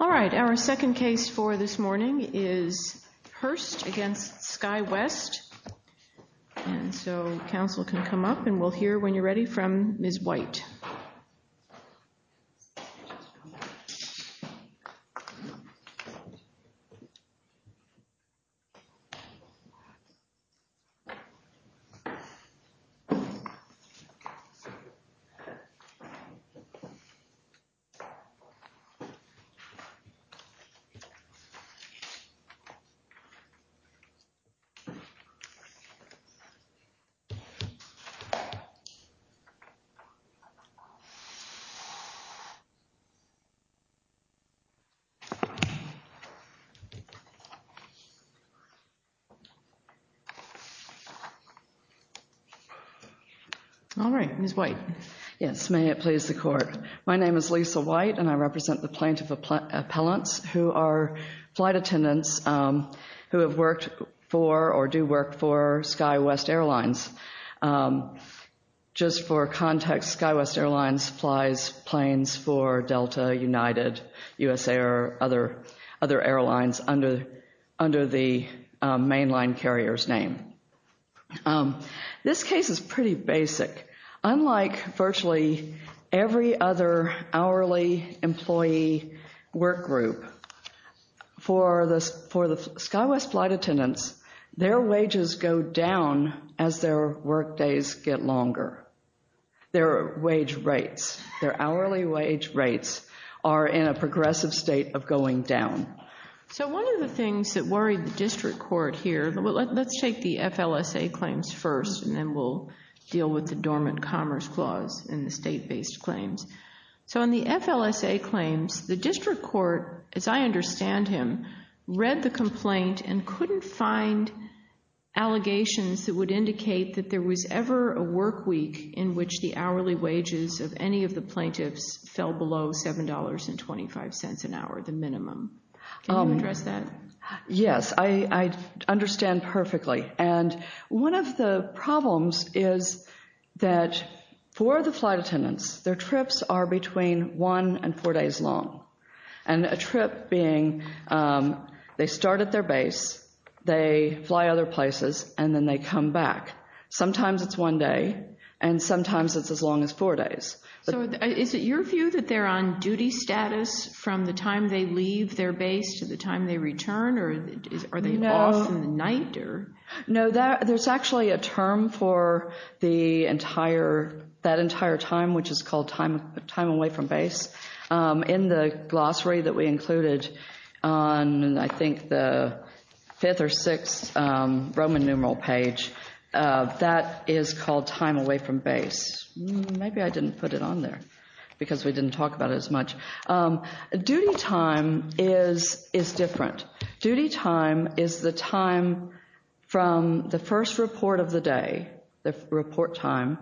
All right, our second case for this morning is Hirst v. Skywest, and so Council can come up and we'll hear when you're ready from Ms. White. All right, Ms. White. Yes, may it please the Court. My name is Lisa White and I represent the lieutenants who have worked for or do work for Skywest Airlines. Just for context, Skywest Airlines supplies planes for Delta, United, USA, or other airlines under the mainline carrier's name. This case is pretty basic. Unlike virtually every other hourly employee work group, for the Skywest flight attendants, their wages go down as their work days get longer. Their wage rates, their hourly wage rates, are in a progressive state of going down. So one of the things that worried the district court here, let's take the FLSA claims first and then we'll deal with the dormant commerce clause in the state-based claims. In the FLSA claims, the district court, as I understand him, read the complaint and couldn't find allegations that would indicate that there was ever a work week in which the hourly wages of any of the plaintiffs fell below $7.25 an hour, the minimum. Can you address that? Yes, I understand perfectly. And one of the problems is that for the flight attendants, their trips are between one and four days long. And a trip being, they start at their base, they fly other places, and then they come back. Sometimes it's one day, and sometimes it's as long as four days. So is it your view that they're on duty status from the time they Are they off in the night? No, there's actually a term for the entire, that entire time, which is called time away from base. In the glossary that we included on, I think, the fifth or sixth Roman numeral page, that is called time away from base. Maybe I didn't put it on there because we didn't talk about it as much. Duty time is different. Duty time is the time from the first report of the day, the report time,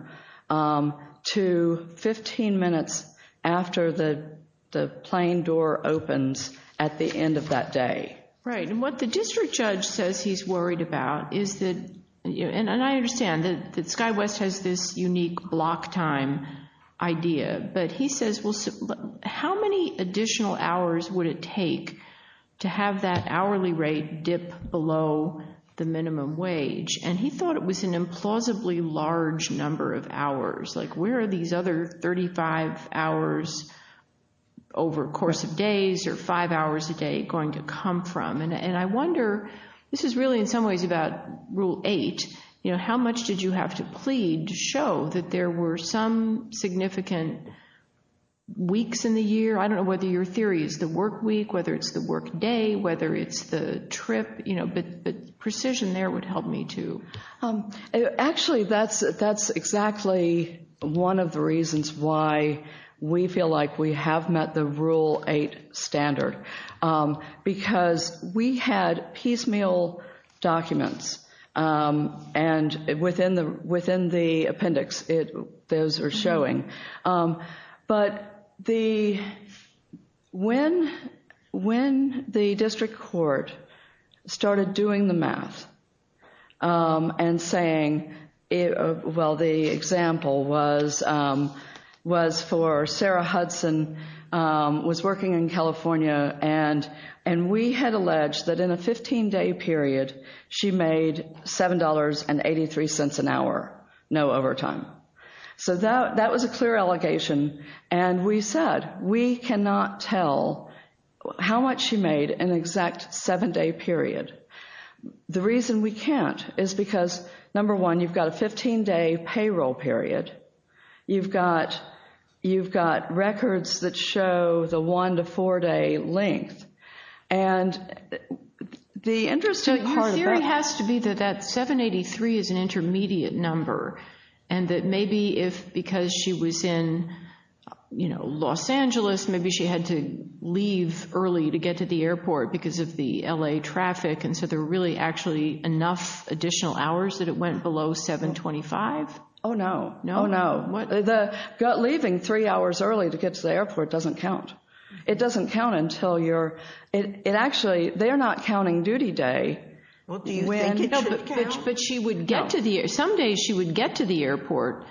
to 15 minutes after the plane door opens at the end of that day. Right, and what the district judge says he's worried about is that, and I understand that SkyWest has this unique block time idea, but he says, well, how many additional hours would it take to have that hourly rate dip below the minimum wage? And he thought it was an implausibly large number of hours. Like, where are these other 35 hours over a course of days or five hours a day going to come from? And I wonder, this is really in some ways about Rule 8, you know, how much did you have to plead to show that there were some significant weeks in the year? I don't know whether your theory is the work week, whether it's the work day, whether it's the trip, you know, but precision there would help me too. Actually, that's exactly one of the reasons why we feel like we have met the Rule 8 standard, because we had piecemeal documents, and within the appendix, those are showing. But when the district court started doing the math and saying, well, the example was for Sarah Hudson, was working in California, and we had alleged that in a 15-day period, she made $7.83 an hour, no overtime. So that was a clear allegation, and we said, we cannot tell how much she made in an exact 7-day period. The reason we can't is because, number one, you've got a 15-day payroll period. You've got records that show the 1- to 4-day length, and the interesting part of that— So your theory has to be that that 7.83 is an intermediate number, and that maybe if, because she was in, you know, Los Angeles, maybe she had to leave early to get to the airport because of the L.A. traffic, and so there were really actually enough additional hours that it went below 7.25? Oh, no. Oh, no. Leaving three hours early to get to the airport doesn't count. It doesn't count until you're—it actually, they're not counting duty day. Well, do you think it should count? But she would get to the—someday she would get to the airport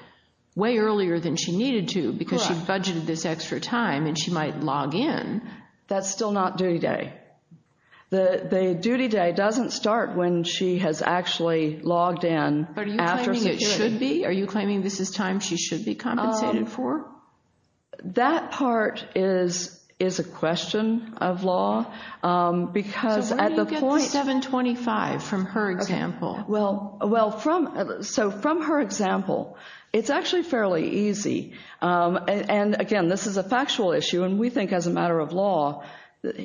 way earlier than she needed to because she budgeted this extra time, and she might log in. That's still not duty day. The duty day doesn't start when she has actually logged in after security. But are you claiming it should be? Are you claiming this is time she should be compensated for? That part is a question of law because at the point— So where do you get the 7.25 from her example? Well, from—so from her example, it's actually fairly easy, and again, this is a factual issue, and we think as a matter of law,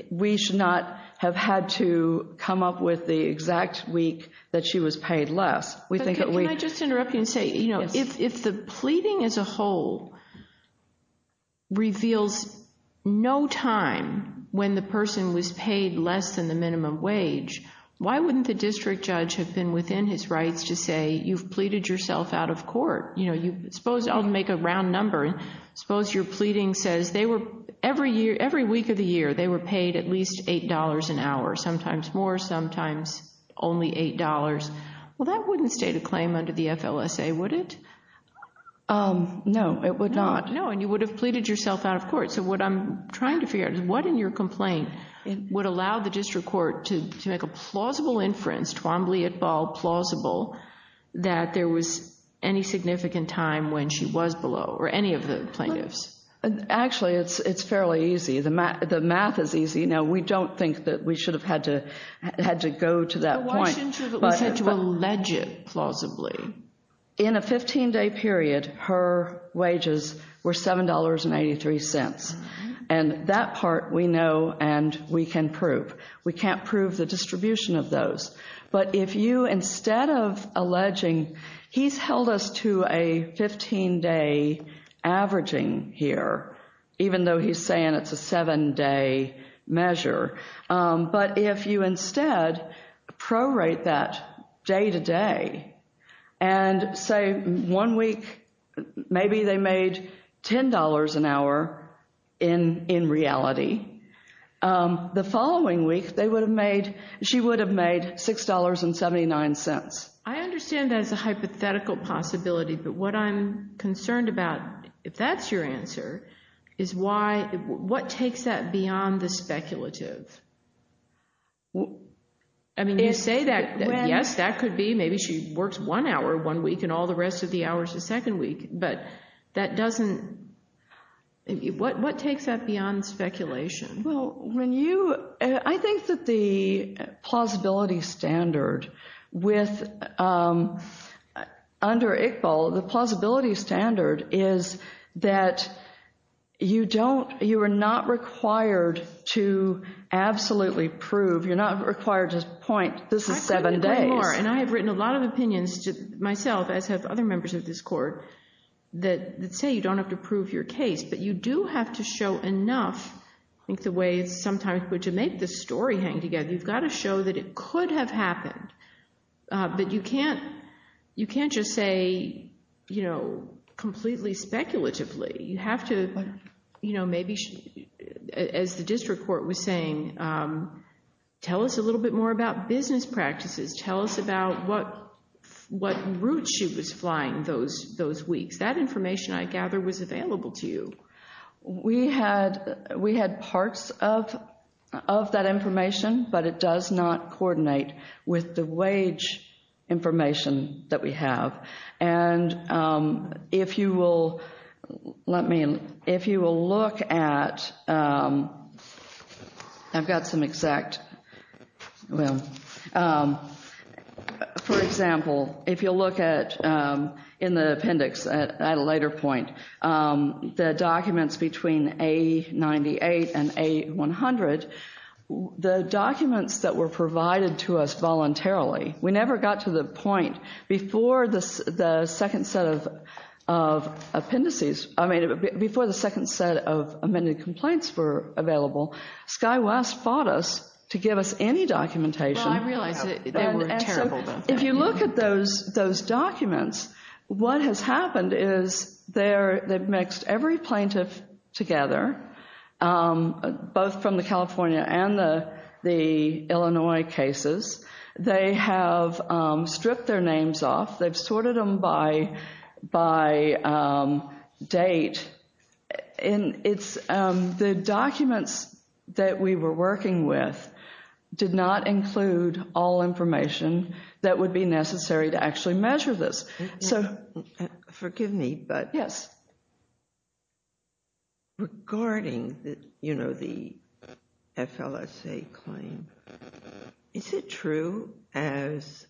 we should not have had to come up with the exact week that she was paid less. We think that we— Can I just interrupt you and say, you know, if the pleading as a whole reveals no time when the person was paid less than the minimum wage, why wouldn't the district judge have been within his rights to say, you've pleaded yourself out of court? You know, suppose—I'll make a round number—suppose your pleading says every week of the year, they were paid at least $8 an hour, sometimes more, sometimes only $8. Well, that wouldn't state a claim under the FLSA, would it? No, it would not. No, and you would have pleaded yourself out of court. So what I'm trying to figure out is what in your complaint would allow the district court to make a plausible inference, plausible, that there was any significant time when she was below, or any of the plaintiffs? Actually, it's fairly easy. The math is easy. You know, we don't think that we should have had to go to that point, but— Well, why shouldn't you allege it plausibly? In a 15-day period, her wages were $7.83, and that part we know and we can prove. We can prove. But if you, instead of alleging—he's held us to a 15-day averaging here, even though he's saying it's a 7-day measure. But if you instead prorate that day-to-day and say one week maybe they made $10 an hour in reality, the following week they would have made—she would have made $10.79. I understand that as a hypothetical possibility, but what I'm concerned about, if that's your answer, is why—what takes that beyond the speculative? I mean, you say that, yes, that could be maybe she works one hour one week and all the rest of the hour is the second week, but that doesn't—what takes that beyond speculation? Well, when you—I think that the plausibility standard with—under ICBL, the plausibility standard is that you don't—you are not required to absolutely prove—you're not required to point this is 7 days. I agree with you way more, and I have written a lot of opinions to myself, as have other members of this Court, that say you don't have to prove your case, but you do have to show enough, I think the way it's sometimes put, to make the story hang together. You've got to show that it could have happened, but you can't just say, you know, completely speculatively. You have to, you know, maybe, as the District Court was saying, tell us a little bit more about business practices. Tell us about what route she was flying those weeks. That information I gather was available to you. We had—we had parts of that information, but it does not coordinate with the wage information that we have, and if you will—let me—if you will look at—I've got some exact—well, for example, if you'll look at—in the appendix at a later point, the documents between A-98 and A-100, the documents that were provided to us voluntarily, we never got to the point before the second set of appendices—I mean, before the second set of amended complaints were available, Sky West fought us to give us any documentation— Well, I realize that they were terrible documents. If you look at those documents, what has happened is they've mixed every plaintiff together, both from the California and the Illinois cases. They have stripped their names off. They've sorted them by date, and it's—the documents that we were working with did not include all information that would be necessary to actually measure this, so— Forgive me, but regarding the, you know, the FLSA claim, is it true, as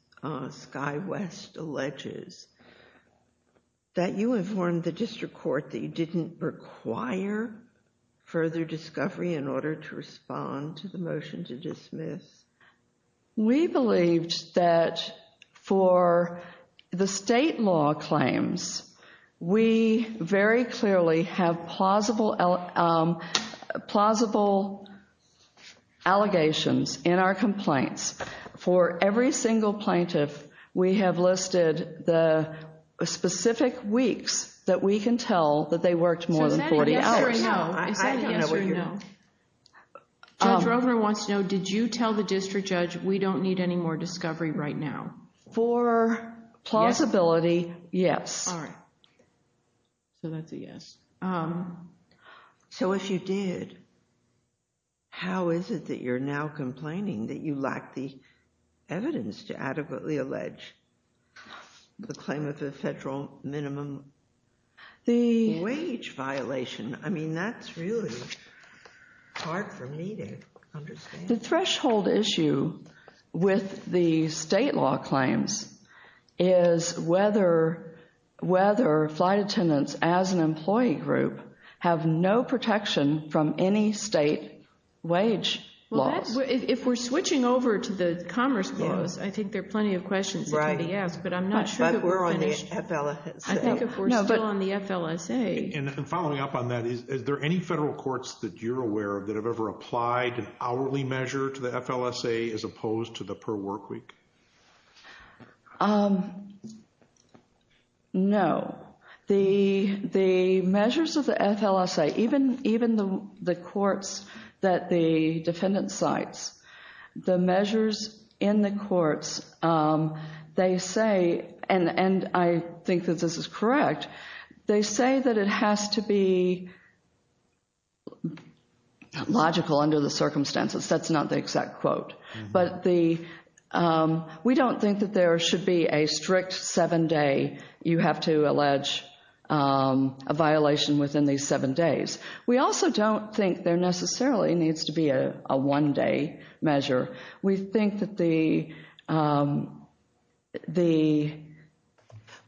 Sky West alleges, that you informed the district court that you didn't require further discovery in order to respond to the motion to dismiss? We believed that for the state law claims, we very clearly have plausible allegations in our complaints. For every single plaintiff, we have listed the specific weeks that we can tell that they worked more than 40 hours. Is that a yes or a no? I don't know what you mean. Judge Rover wants to know, did you tell the district judge, we don't need any more discovery right now? For plausibility, yes. All right. So that's a yes. So if you did, how is it that you're now complaining that you lack the evidence to adequately allege the claim of the federal minimum wage violation? I mean, that's really hard for me to understand. The threshold issue with the state law claims is whether flight attendants as an employee group have no protection from any state wage laws. If we're switching over to the Commerce Clause, I think there are plenty of questions that need to be asked, but I'm not sure that we're finished. I think if we're still on the FLSA— And following up on that, is there any federal courts that you're aware of that have ever applied an hourly measure to the FLSA as opposed to the per workweek? No. The measures of the FLSA, even the courts that the defendant cites, the measures in the courts, they say—and I think that this is correct—they say that it has to be a has to be logical under the circumstances. That's not the exact quote. But we don't think that there should be a strict seven-day, you have to allege a violation within these seven days. We also don't think there necessarily needs to be a one-day measure. We think that the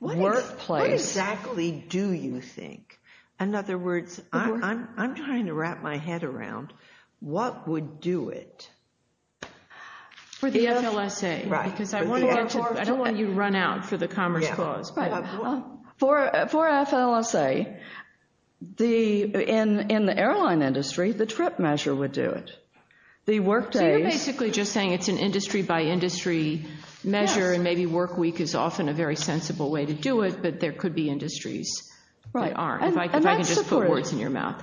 workplace— In other words, I'm trying to wrap my head around what would do it. For the FLSA, because I don't want you to run out for the Commerce Clause. For FLSA, in the airline industry, the trip measure would do it. The workdays— So you're basically just saying it's an industry-by-industry measure, and maybe workweek is often a very sensible way to do it, but there could be industries that aren't. If I can just put words in your mouth.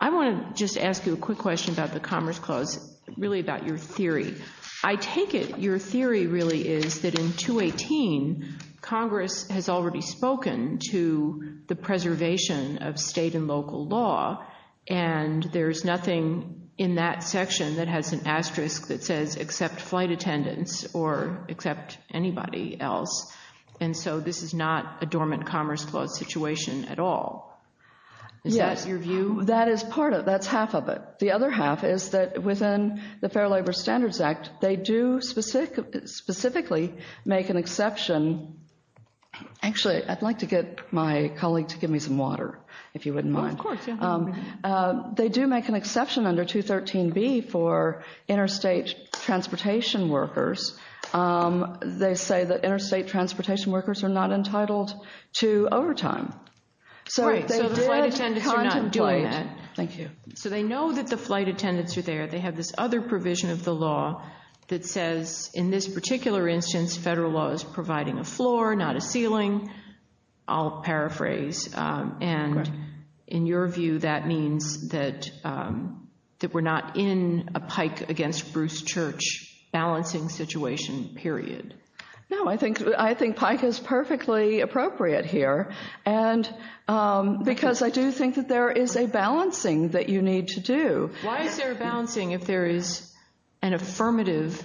I want to just ask you a quick question about the Commerce Clause, really about your theory. I take it your theory really is that in 218, Congress has already spoken to the preservation of state and local law, and there's nothing in that section that has an asterisk that says except flight attendants, or except anybody else, and so this is not a dormant Commerce Clause situation at all. Is that your view? That is part of it. That's half of it. The other half is that within the Fair Labor Standards Act, they do specifically make an exception—actually, I'd like to get my colleague to give me some water, if you wouldn't mind. They do make an exception under 213B for interstate transportation workers. They say that interstate transportation workers are not entitled to overtime. So they know that the flight attendants are there. They have this other provision of the law that says in this particular instance, federal law is providing a floor, not a ceiling. I'll paraphrase, and in your view, that means that we're not in a pike against Bruce Church balancing situation, period? No, I think pike is perfectly appropriate here, because I do think that there is a balancing that you need to do. Why is there a balancing if there is an affirmative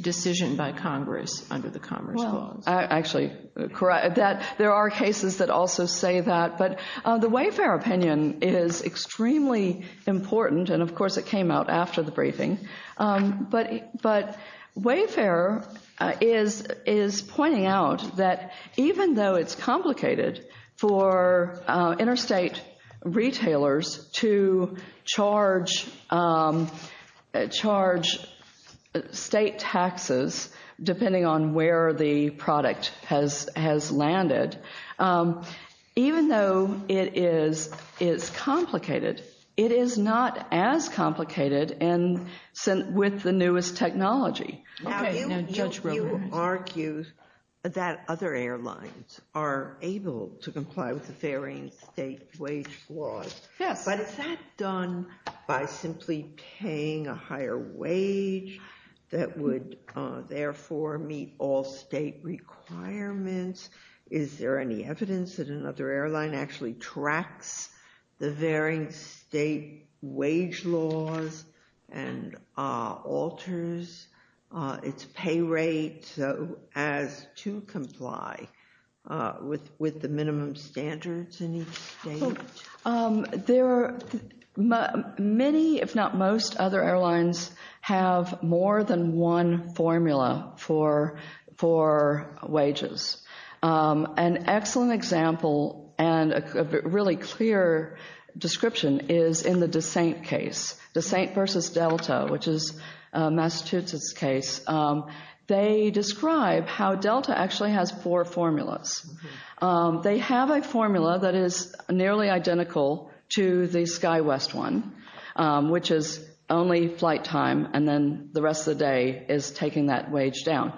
decision by Congress under the Commerce Clause? There are cases that also say that, but the Wayfair opinion is extremely important, and but Wayfair is pointing out that even though it's complicated for interstate retailers to charge state taxes depending on where the product has landed, even though it is complicated, it is not as complicated with the newest technology. Now, you argue that other airlines are able to comply with the varying state wage laws, but is that done by simply paying a higher wage that would therefore meet all state requirements? Is there any evidence that another airline actually tracks the varying state wage laws and alters its pay rate as to comply with the minimum standards in each state? Many if not most other airlines have more than one formula for wages. An excellent example and a really clear description is in the Descent case, Descent versus Delta, which is Massachusetts' case. They describe how Delta actually has four formulas. They have a formula that is nearly identical to the SkyWest one, which is only flight time, and then the rest of the day is taking that wage down.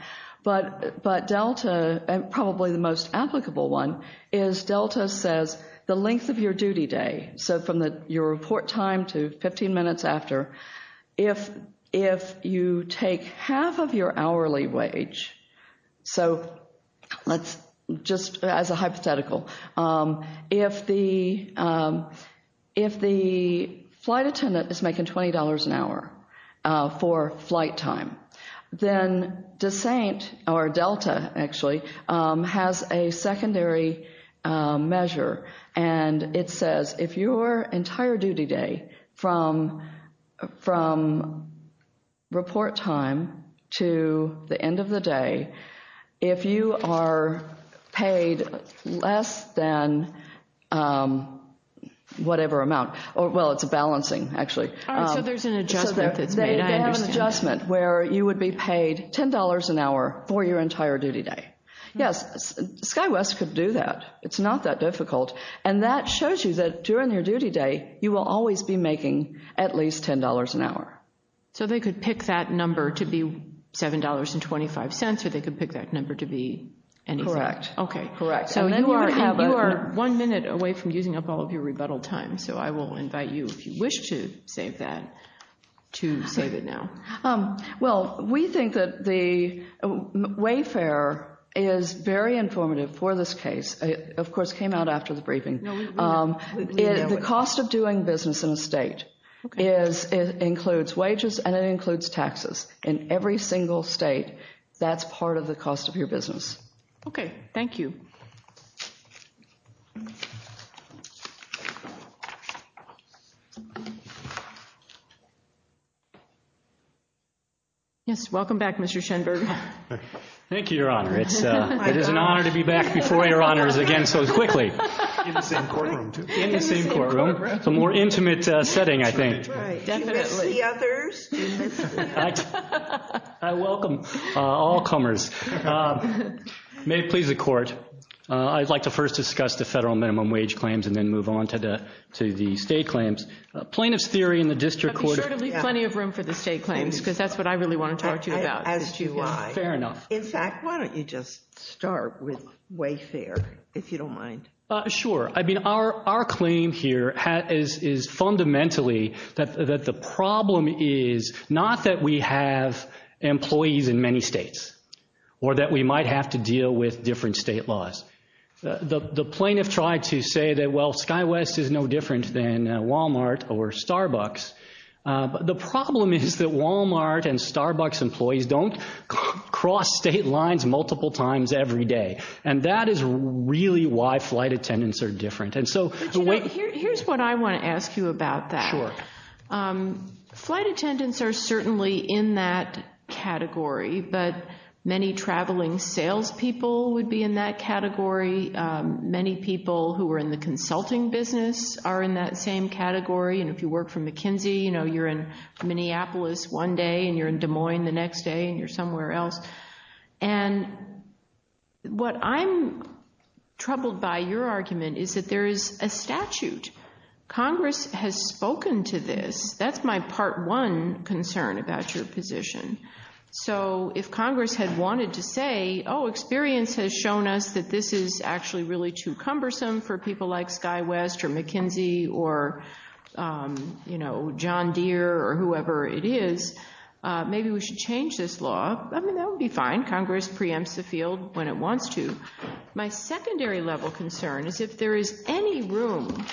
But Delta, probably the most applicable one, is Delta says the length of your duty day, so from your report time to 15 minutes after, if you take half of your hourly wage, so just as a hypothetical, if the flight attendant is making $20 an hour for flight time, then Descent, or Delta actually, has a secondary measure. It says if your entire duty day from report time to the end of the day, if you are paid less than whatever amount, well, it's a balancing actually, they have an adjustment where you are paid $10 an hour for your entire duty day. Yes, SkyWest could do that. It's not that difficult, and that shows you that during your duty day, you will always be making at least $10 an hour. So they could pick that number to be $7.25, or they could pick that number to be anything. Correct. Okay, correct, so you are one minute away from using up all of your rebuttal time, so I will invite you, if you wish to save that, to save it now. Well, we think that the Wayfair is very informative for this case. Of course, it came out after the briefing. The cost of doing business in a state includes wages and it includes taxes. In every single state, that's part of the cost of your business. Okay, thank you. Yes, welcome back, Mr. Schenberg. Thank you, Your Honor. It is an honor to be back before Your Honors again so quickly. In the same courtroom, too. In the same courtroom. It's a more intimate setting, I think. Right, definitely. Do you miss the others? I welcome all comers. May it please the Court, I'd like to first discuss the federal minimum wage claims and then move on to the state claims. Plaintiff's theory in the district court... Fair enough. In fact, why don't you just start with Wayfair, if you don't mind. Sure. I mean, our claim here is fundamentally that the problem is not that we have employees in many states or that we might have to deal with different state laws. The plaintiff tried to say that, well, SkyWest is no different than Walmart or Starbucks. The problem is that Walmart and Starbucks employees don't cross state lines multiple times every day, and that is really why flight attendants are different. Here's what I want to ask you about that. Sure. Flight attendants are certainly in that category, but many traveling salespeople would be in that category. Many people who are in the consulting business are in that same category, and if you work for McKinsey, you're in Minneapolis one day and you're in Des Moines the next day and you're somewhere else. What I'm troubled by your argument is that there is a statute. Congress has spoken to this. That's my part one concern about your position. If Congress had wanted to say, oh, experience has shown us that this is actually really too cumbersome for people like SkyWest or McKinsey or, you know, John Deere or whoever it is, maybe we should change this law. I mean, that would be fine. Congress preempts the field when it wants to. My secondary level concern is if there is any room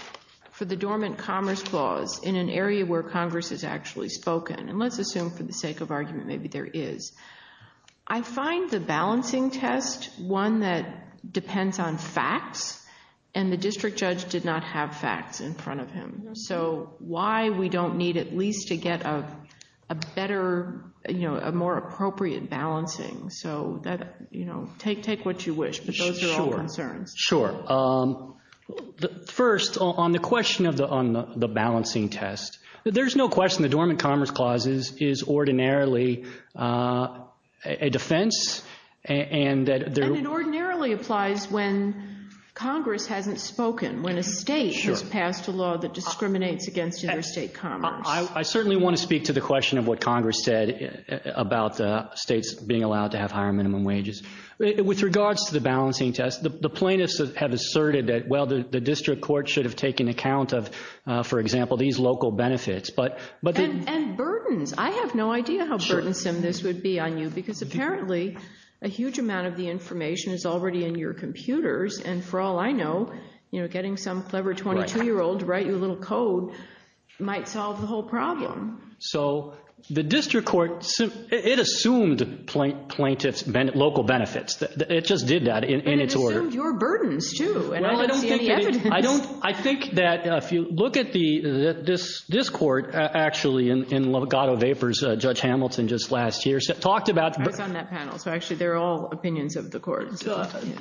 for the dormant commerce clause in an area where Congress has actually spoken, and let's assume for the sake of argument maybe there is. I find the balancing test one that depends on facts, and the district judge did not have facts in front of him. So why we don't need at least to get a better, you know, a more appropriate balancing. So that, you know, take what you wish, but those are all concerns. Sure. First, on the question of the balancing test, there's no question the dormant commerce clause is ordinarily a defense. And it ordinarily applies when Congress hasn't spoken, when a state has passed a law that discriminates against interstate commerce. I certainly want to speak to the question of what Congress said about states being allowed to have higher minimum wages. With regards to the balancing test, the plaintiffs have asserted that, well, the district court should have taken account of, for example, these local benefits. And burdens. I have no idea how burdensome this would be on you, because apparently a huge amount of the information is already in your computers, and for all I know, you know, getting some clever 22-year-old to write you a little code might solve the whole problem. So the district court, it assumed plaintiffs' local benefits. It just did that in its order. But it assumed your burdens, too, and I don't see any evidence. I think that if you look at this court, actually, in Legato Vapors, Judge Hamilton just last year talked about... I was on that panel, so actually they're all opinions of the court.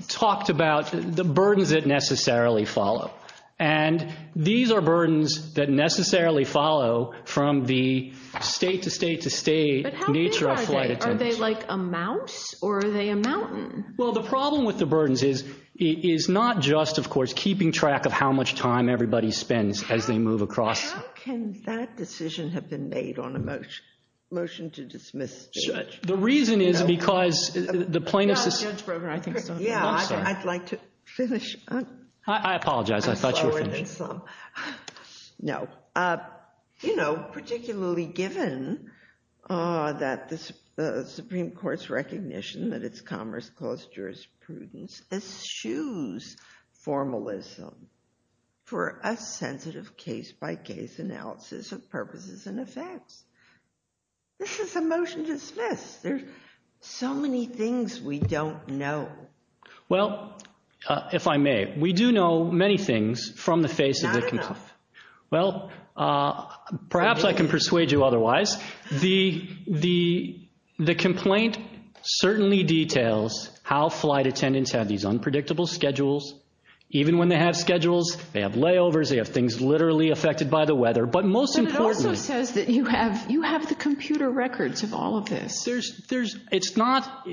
Talked about the burdens that necessarily follow. And these are burdens that necessarily follow from the state-to-state-to-state nature of flight attention. But how big are they? Are they like a mouse, or are they a mountain? Well, the problem with the burdens is not just, of course, keeping track of how much time everybody spends as they move across... How can that decision have been made on a motion to dismiss the judge? The reason is because the plaintiff's... Yeah, I'd like to finish. I apologize. I thought you were finished. I'm slower than some. No. You know, particularly given that the Supreme Court's recognition that it's commerce clause jurisprudence eschews formalism for a sensitive case-by-case analysis of purposes and effects. This is a motion to dismiss. There's so many things we don't know. Well, if I may, we do know many things from the face of the... Not enough. Well, perhaps I can persuade you otherwise. The complaint certainly details how flight attendants have these unpredictable schedules. Even when they have schedules, they have layovers. They have things literally affected by the weather. But most importantly... But it also says that you have the computer records of all of this. There's... It's not...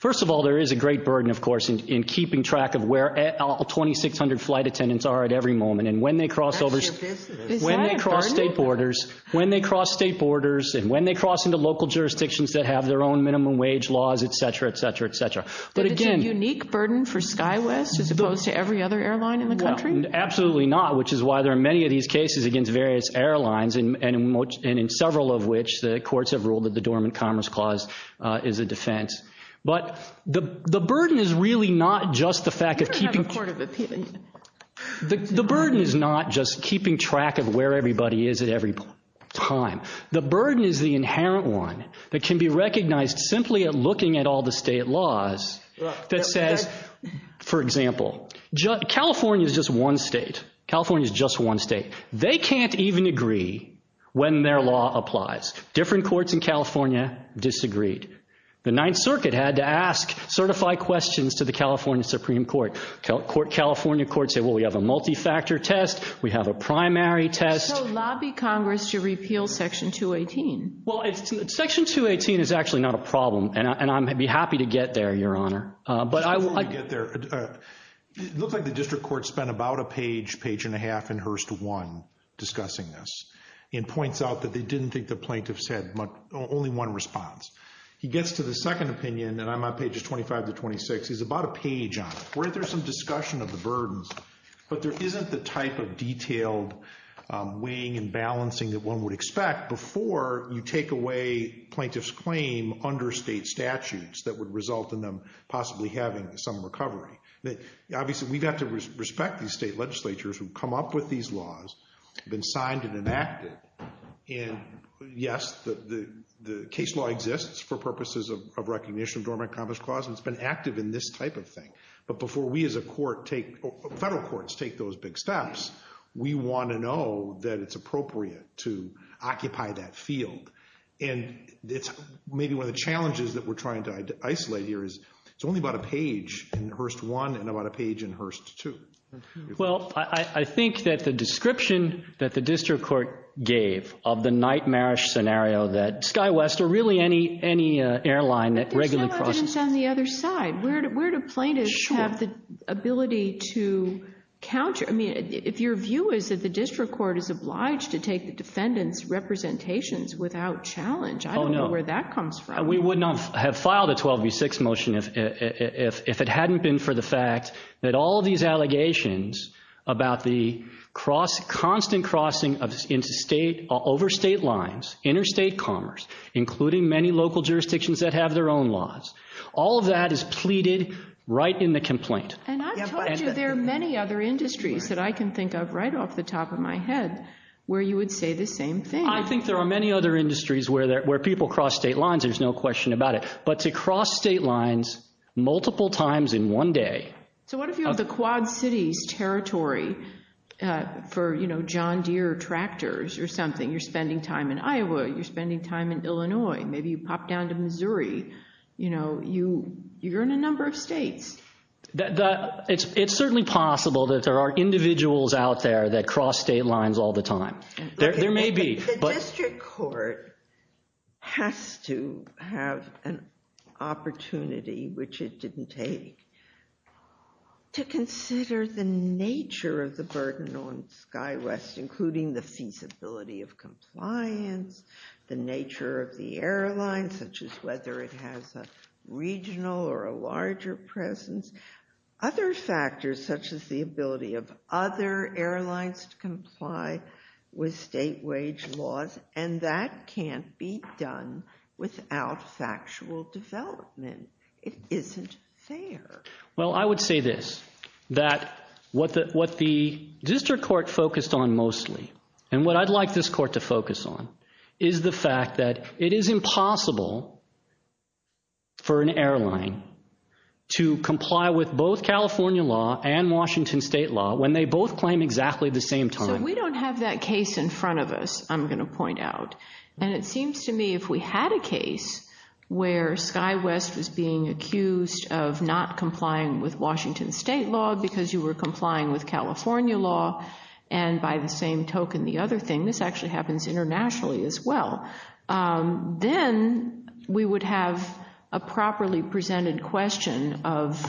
First of all, there is a great burden, of course, in keeping track of where all 2,600 flight attendants are at every moment. And when they cross over... That's your business. Is that a burden? When they cross state borders, when they cross state borders, and when they cross into local jurisdictions that have their own minimum wage laws, et cetera, et cetera, et cetera. But again... Is it a unique burden for SkyWest as opposed to every other airline in the country? Well, absolutely not, which is why there are many of these cases against various airlines, and in several of which the courts have ruled that the dormant commerce clause is a defense. But the burden is really not just the fact of keeping... The burden is not just keeping track of where everybody is at every time. The burden is the inherent one that can be recognized simply at looking at all the state laws that says, for example, California is just one state. California is just one state. They can't even agree when their law applies. Different courts in California disagreed. The Ninth Circuit had to ask, certify questions to the California Supreme Court. California courts said, well, we have a multi-factor test. We have a primary test. So lobby Congress to repeal Section 218. Well, Section 218 is actually not a problem, and I'd be happy to get there, Your Honor. Before we get there, it looks like the district court spent about a page, page and a half, in Hearst 1 discussing this, and points out that they didn't think the plaintiffs had only one response. He gets to the second opinion, and I'm on pages 25 to 26. He's about a page on it. Weren't there some discussion of the burdens? But there isn't the type of detailed weighing and balancing that one would expect before you take away plaintiff's claim under state statutes that would result in them possibly having some recovery. Obviously, we've got to respect these state legislatures who've come up with these laws, been signed and enacted, and yes, the case law exists for purposes of recognition of this type of thing. But before we as a court take, federal courts take those big steps, we want to know that it's appropriate to occupy that field. And it's maybe one of the challenges that we're trying to isolate here is it's only about a page in Hearst 1 and about a page in Hearst 2. Well, I think that the description that the district court gave of the nightmarish scenario that SkyWest or really any airline that regularly crosses... I don't know if it's on the other side. Where do plaintiffs have the ability to counter? I mean, if your view is that the district court is obliged to take the defendant's representations without challenge, I don't know where that comes from. We would not have filed a 12 v. 6 motion if it hadn't been for the fact that all these allegations about the constant crossing over state lines, interstate commerce, including many local jurisdictions that have their own laws, all of that is pleaded right in the complaint. And I've told you there are many other industries that I can think of right off the top of my head where you would say the same thing. I think there are many other industries where people cross state lines, there's no question about it. But to cross state lines multiple times in one day... So what if you have the Quad Cities territory for John Deere tractors or something, you're in a number of states. It's certainly possible that there are individuals out there that cross state lines all the time. There may be. The district court has to have an opportunity, which it didn't take, to consider the nature of the burden on SkyWest, including the feasibility of compliance, the nature of the airlines, such as whether it has a regional or a larger presence. Other factors, such as the ability of other airlines to comply with state wage laws. And that can't be done without factual development. It isn't fair. Well, I would say this, that what the district court focused on mostly, and what I'd like this court to focus on, is the fact that it is impossible for an airline to comply with both California law and Washington state law when they both claim exactly the same time. So we don't have that case in front of us, I'm going to point out. And it seems to me if we had a case where SkyWest was being accused of not complying with Washington state law because you were complying with California law, and by the same token, the other thing, this actually happens internationally as well, then we would have a properly presented question of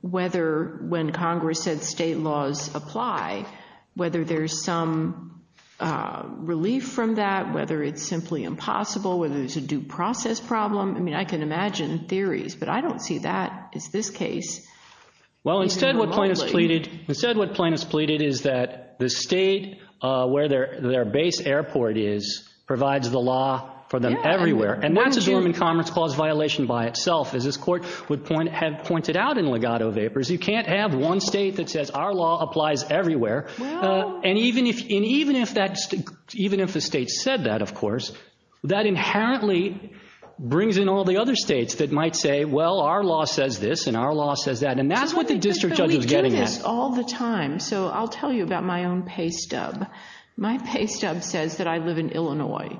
whether when Congress said state laws apply, whether there's some relief from that, whether it's simply impossible, whether it's a due process problem. I mean, I can imagine theories, but I don't see that as this case. Well, instead what plaintiffs pleaded, instead what plaintiffs pleaded is that the state where their base airport is provides the law for them everywhere. And that's a German commerce clause violation by itself. As this court would have pointed out in Legato Vapors, you can't have one state that says our law applies everywhere. And even if the state said that, of course, that inherently brings in all the other states that might say, well, our law says this and our law says that. And that's what the district judge was getting at. But we do this all the time. So I'll tell you about my own pay stub. My pay stub says that I live in Illinois.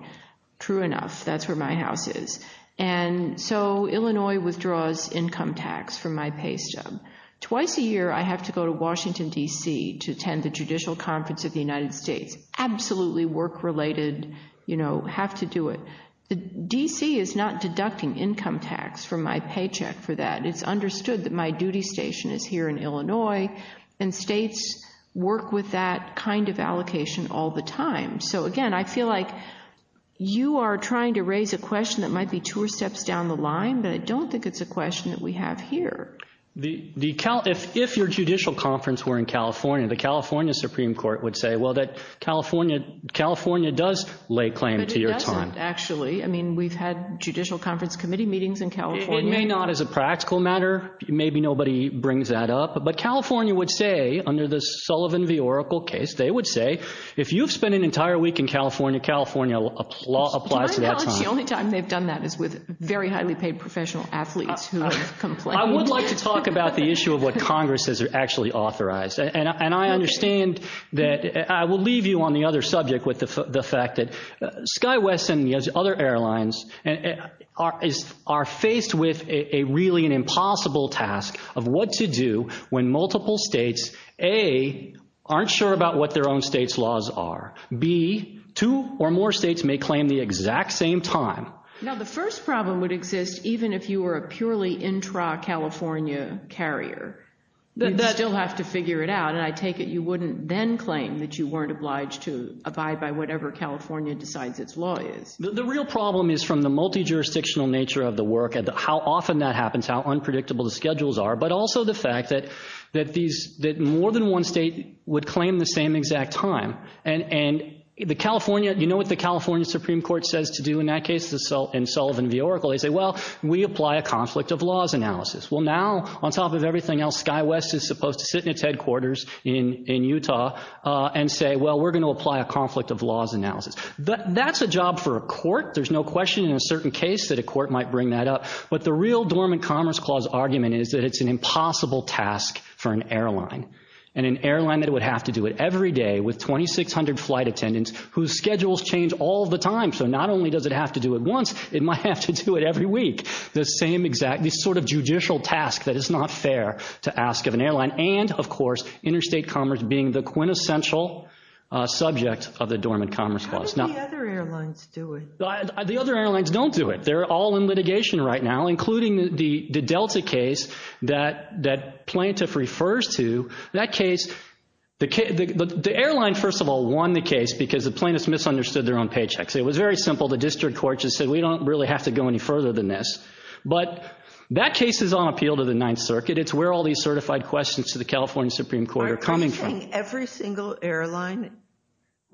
True enough, that's where my house is. And so Illinois withdraws income tax from my pay stub. Twice a year, I have to go to Washington, D.C. to attend the Judicial Conference of the United States. Absolutely work-related, you know, have to do it. D.C. is not deducting income tax from my paycheck for that. It's understood that my duty station is here in Illinois. And states work with that kind of allocation all the time. So again, I feel like you are trying to raise a question that might be two steps down the line, but I don't think it's a question that we have here. If your judicial conference were in California, the California Supreme Court would say, well, that California does lay claim to your time. But it doesn't, actually. I mean, we've had Judicial Conference Committee meetings in California. It may not as a practical matter. Maybe nobody brings that up. But California would say, under the Sullivan v. Oracle case, they would say, if you've spent an entire week in California, California applies to that time. The only time they've done that is with very highly paid professional athletes who have I would like to talk about the issue of what Congress has actually authorized. And I understand that. I will leave you on the other subject with the fact that SkyWest and the other airlines are faced with a really an impossible task of what to do when multiple states, A, aren't sure about what their own state's laws are. B, two or more states may claim the exact same time. Now, the first problem would exist even if you were a purely intra-California carrier. You'd still have to figure it out. And I take it you wouldn't then claim that you weren't obliged to abide by whatever California decides its law is. The real problem is from the multi-jurisdictional nature of the work and how often that happens, how unpredictable the schedules are, but also the fact that more than one state would claim the same exact time. And you know what the California Supreme Court says to do in that case in Sullivan v. Oracle? They say, well, we apply a conflict of laws analysis. Well, now, on top of everything else, SkyWest is supposed to sit in its headquarters in Utah and say, well, we're going to apply a conflict of laws analysis. That's a job for a court. There's no question in a certain case that a court might bring that up. But the real dormant Commerce Clause argument is that it's an impossible task for an airline, and an airline that would have to do it every day with 2,600 flight attendants whose schedules change all the time. So not only does it have to do it once, it might have to do it every week. The same exact, this sort of judicial task that is not fair to ask of an airline. And, of course, interstate commerce being the quintessential subject of the Dormant Commerce Clause. How do the other airlines do it? The other airlines don't do it. They're all in litigation right now, including the Delta case that Plaintiff refers to, that case, the airline, first of all, won the case because the plaintiffs misunderstood their own paychecks. It was very simple. The district court just said, we don't really have to go any further than this. But that case is on appeal to the Ninth Circuit. It's where all these certified questions to the California Supreme Court are coming from. Are you saying every single airline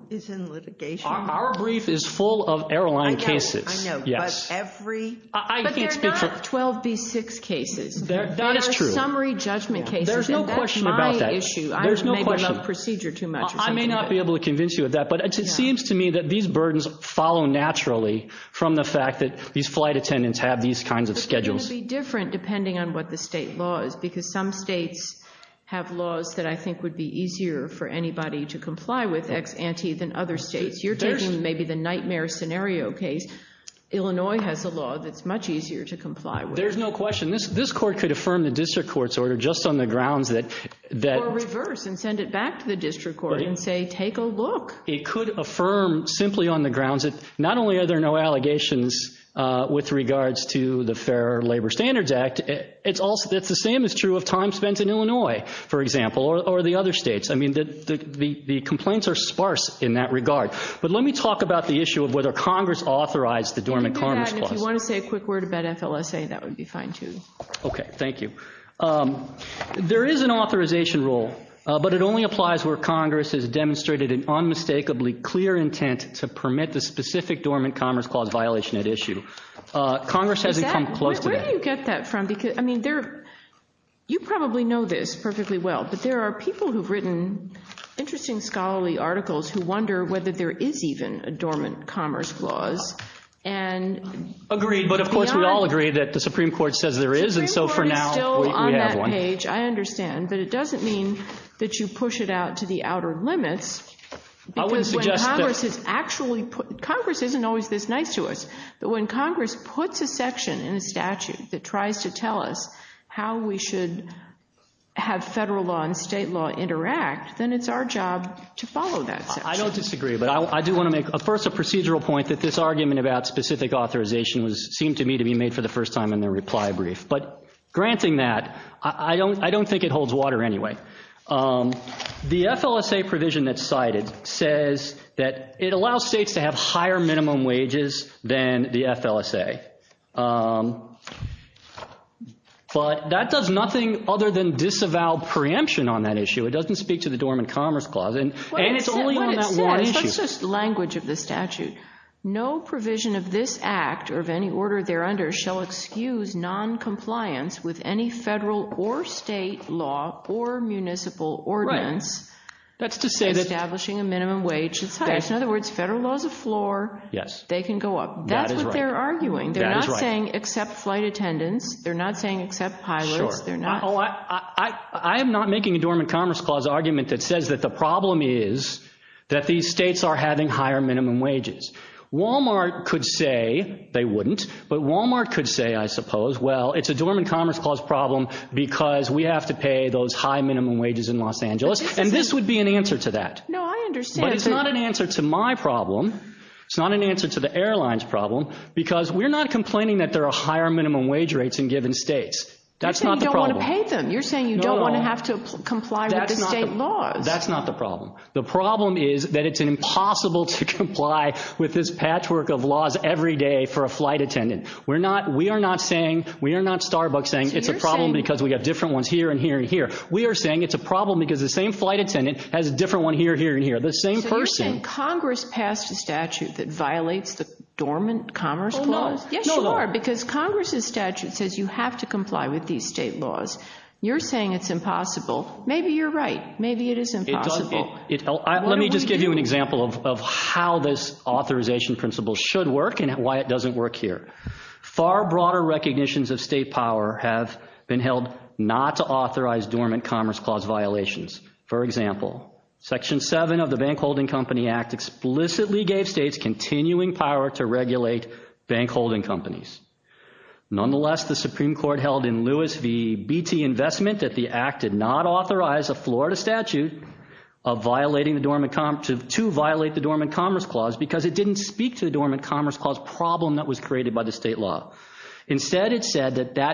is in litigation? Our brief is full of airline cases. I know. But every. But they're not 12B6 cases. They're summary judgment cases. And that's my issue. I may be above procedure too much. I may not be able to convince you of that. But it seems to me that these burdens follow naturally from the fact that these flight attendants have these kinds of schedules. It's going to be different depending on what the state law is. Because some states have laws that I think would be easier for anybody to comply with ex ante than other states. You're taking maybe the nightmare scenario case. Illinois has a law that's much easier to comply with. There's no question. This court could affirm the district court's order just on the grounds that. Or reverse and send it back to the district court and say take a look. It could affirm simply on the grounds that not only are there no allegations with regards to the Fair Labor Standards Act. It's the same is true of time spent in Illinois, for example, or the other states. I mean the complaints are sparse in that regard. But let me talk about the issue of whether Congress authorized the Dormant Commerce Clause. If you want to say a quick word about FLSA, that would be fine too. Okay, thank you. There is an authorization rule. But it only applies where Congress has demonstrated an unmistakably clear intent to permit the specific Dormant Commerce Clause violation at issue. Congress hasn't come close to that. Where do you get that from? You probably know this perfectly well. But there are people who've written interesting scholarly articles who wonder whether there is even a Dormant Commerce Clause. Agreed, but of course we all agree that the Supreme Court says there is. The Supreme Court is still on that page, I understand. But it doesn't mean that you push it out to the outer limits. Congress isn't always this nice to us. But when Congress puts a section in a statute that tries to tell us how we should have federal law and state law interact, then it's our job to follow that section. I don't disagree, but I do want to make first a procedural point that this argument about specific authorization seemed to me to be made for the first time in the reply brief. But granting that, I don't think it holds water anyway. The FLSA provision that's cited says that it allows states to have higher minimum wages than the FLSA. But that does nothing other than disavow preemption on that issue. It doesn't speak to the Dormant Commerce Clause, and it's only on that one issue. That's just language of the statute. No provision of this act or of any order there under shall excuse non-compliance with any federal or state law or municipal ordinance establishing a minimum wage that's higher. In other words, federal law is a floor. They can go up. That's what they're arguing. They're not saying accept flight attendants. They're not saying accept pilots. I am not making a Dormant Commerce Clause argument that says that the problem is that these states are having higher minimum wages. Walmart could say they wouldn't, but Walmart could say, I suppose, well, it's a Dormant Commerce Clause problem because we have to pay those high minimum wages in Los Angeles. And this would be an answer to that. No, I understand. But it's not an answer to my problem. It's not an answer to the airline's problem. Because we're not complaining that there are higher minimum wage rates in given states. That's not the problem. You're saying you don't want to pay them. You're saying you don't want to have to comply with the state laws. That's not the problem. The problem is that it's impossible to comply with this patchwork of laws every day for a flight attendant. We are not saying, we are not Starbucks saying it's a problem because we have different ones here and here and here. We are saying it's a problem because the same flight attendant has a different one here, here and here. The same person. So you're saying Congress passed a statute that violates the Dormant Commerce Clause? Yes, you are. Because Congress' statute says you have to comply with these state laws. You're saying it's impossible. Maybe you're right. Maybe it is impossible. Let me just give you an example of how this authorization principle should work and why it doesn't work here. Far broader recognitions of state power have been held not to authorize Dormant Commerce Clause violations. For example, Section 7 of the Bank Holding Company Act explicitly gave states continuing power to regulate bank holding companies. Nonetheless, the Supreme Court held in Lewis v. BT Investment that the act did not authorize a Florida statute to violate the Dormant Commerce Clause because it didn't speak to the Dormant Commerce Clause problem that was created by the state law. Instead, it said that that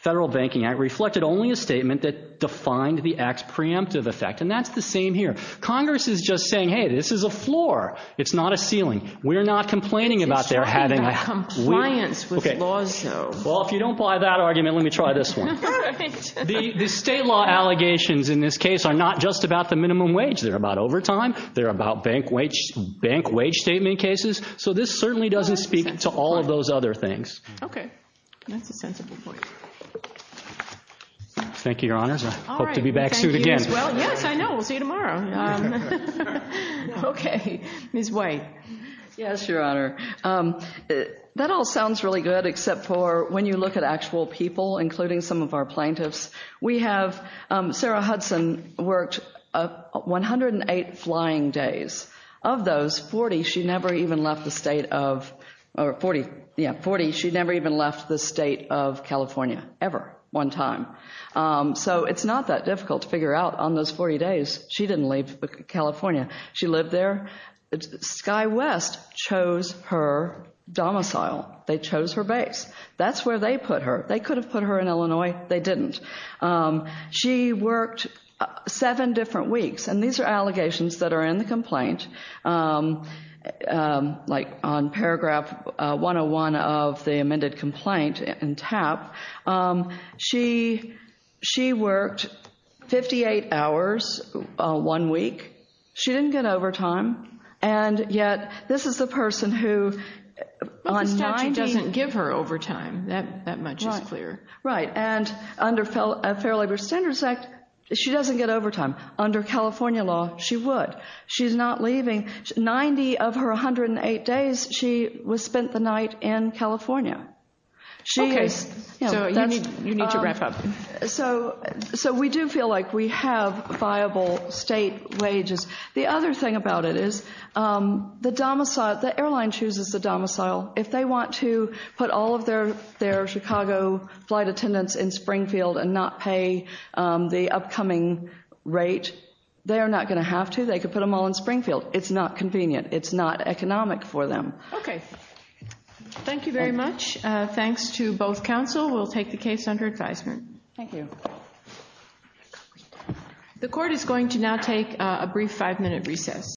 federal banking act reflected only a statement that violated the Dormant Commerce Clause. And that's the same here. Congress is just saying hey, this is a floor. It's not a ceiling. We're not complaining about their having compliance with laws though. Well, if you don't buy that argument, let me try this one. The state law allegations in this case are not just about the minimum wage. They're about overtime. They're about bank wage statement cases. So this certainly doesn't speak to all of those other things. Okay. That's a sensible point. Thank you, Your Honors. I hope to be back soon again. Yes, I know. We'll see you tomorrow. Ms. White. Yes, Your Honor. That all sounds really good except for when you look at actual people, including some of our plaintiffs. We have Sarah Hudson worked 108 flying days. Of those, 40 she never even left the state of California. Ever. One time. So it's not that difficult to figure out on those 40 days she didn't leave California. She lived there. Sky West chose her domicile. They chose her base. That's where they put her. They could have put her in Illinois. They didn't. She worked seven different weeks. And these are allegations that are in the complaint. Like on paragraph 101 of the amended complaint in TAP, she worked 58 hours one week. She didn't get overtime. And yet, this is the person who on 90... But the statute doesn't give her overtime. That much is clear. Right. And under Fair Labor Standards Act, she doesn't get overtime. Under California law, she would. She's not leaving. 90 of her 108 days, she was spent the night in California. You need to wrap up. So we do feel like we have viable state wages. The other thing about it is the airline chooses the domicile. If they want to put all of their Chicago flight attendants in Springfield and not pay the upcoming rate, they're not going to have to. They could put them all in Springfield. It's not convenient. It's not convenient. Thank you very much. Thanks to both counsel. We'll take the case under advisement. Thank you. The court is going to now take a brief five-minute recess.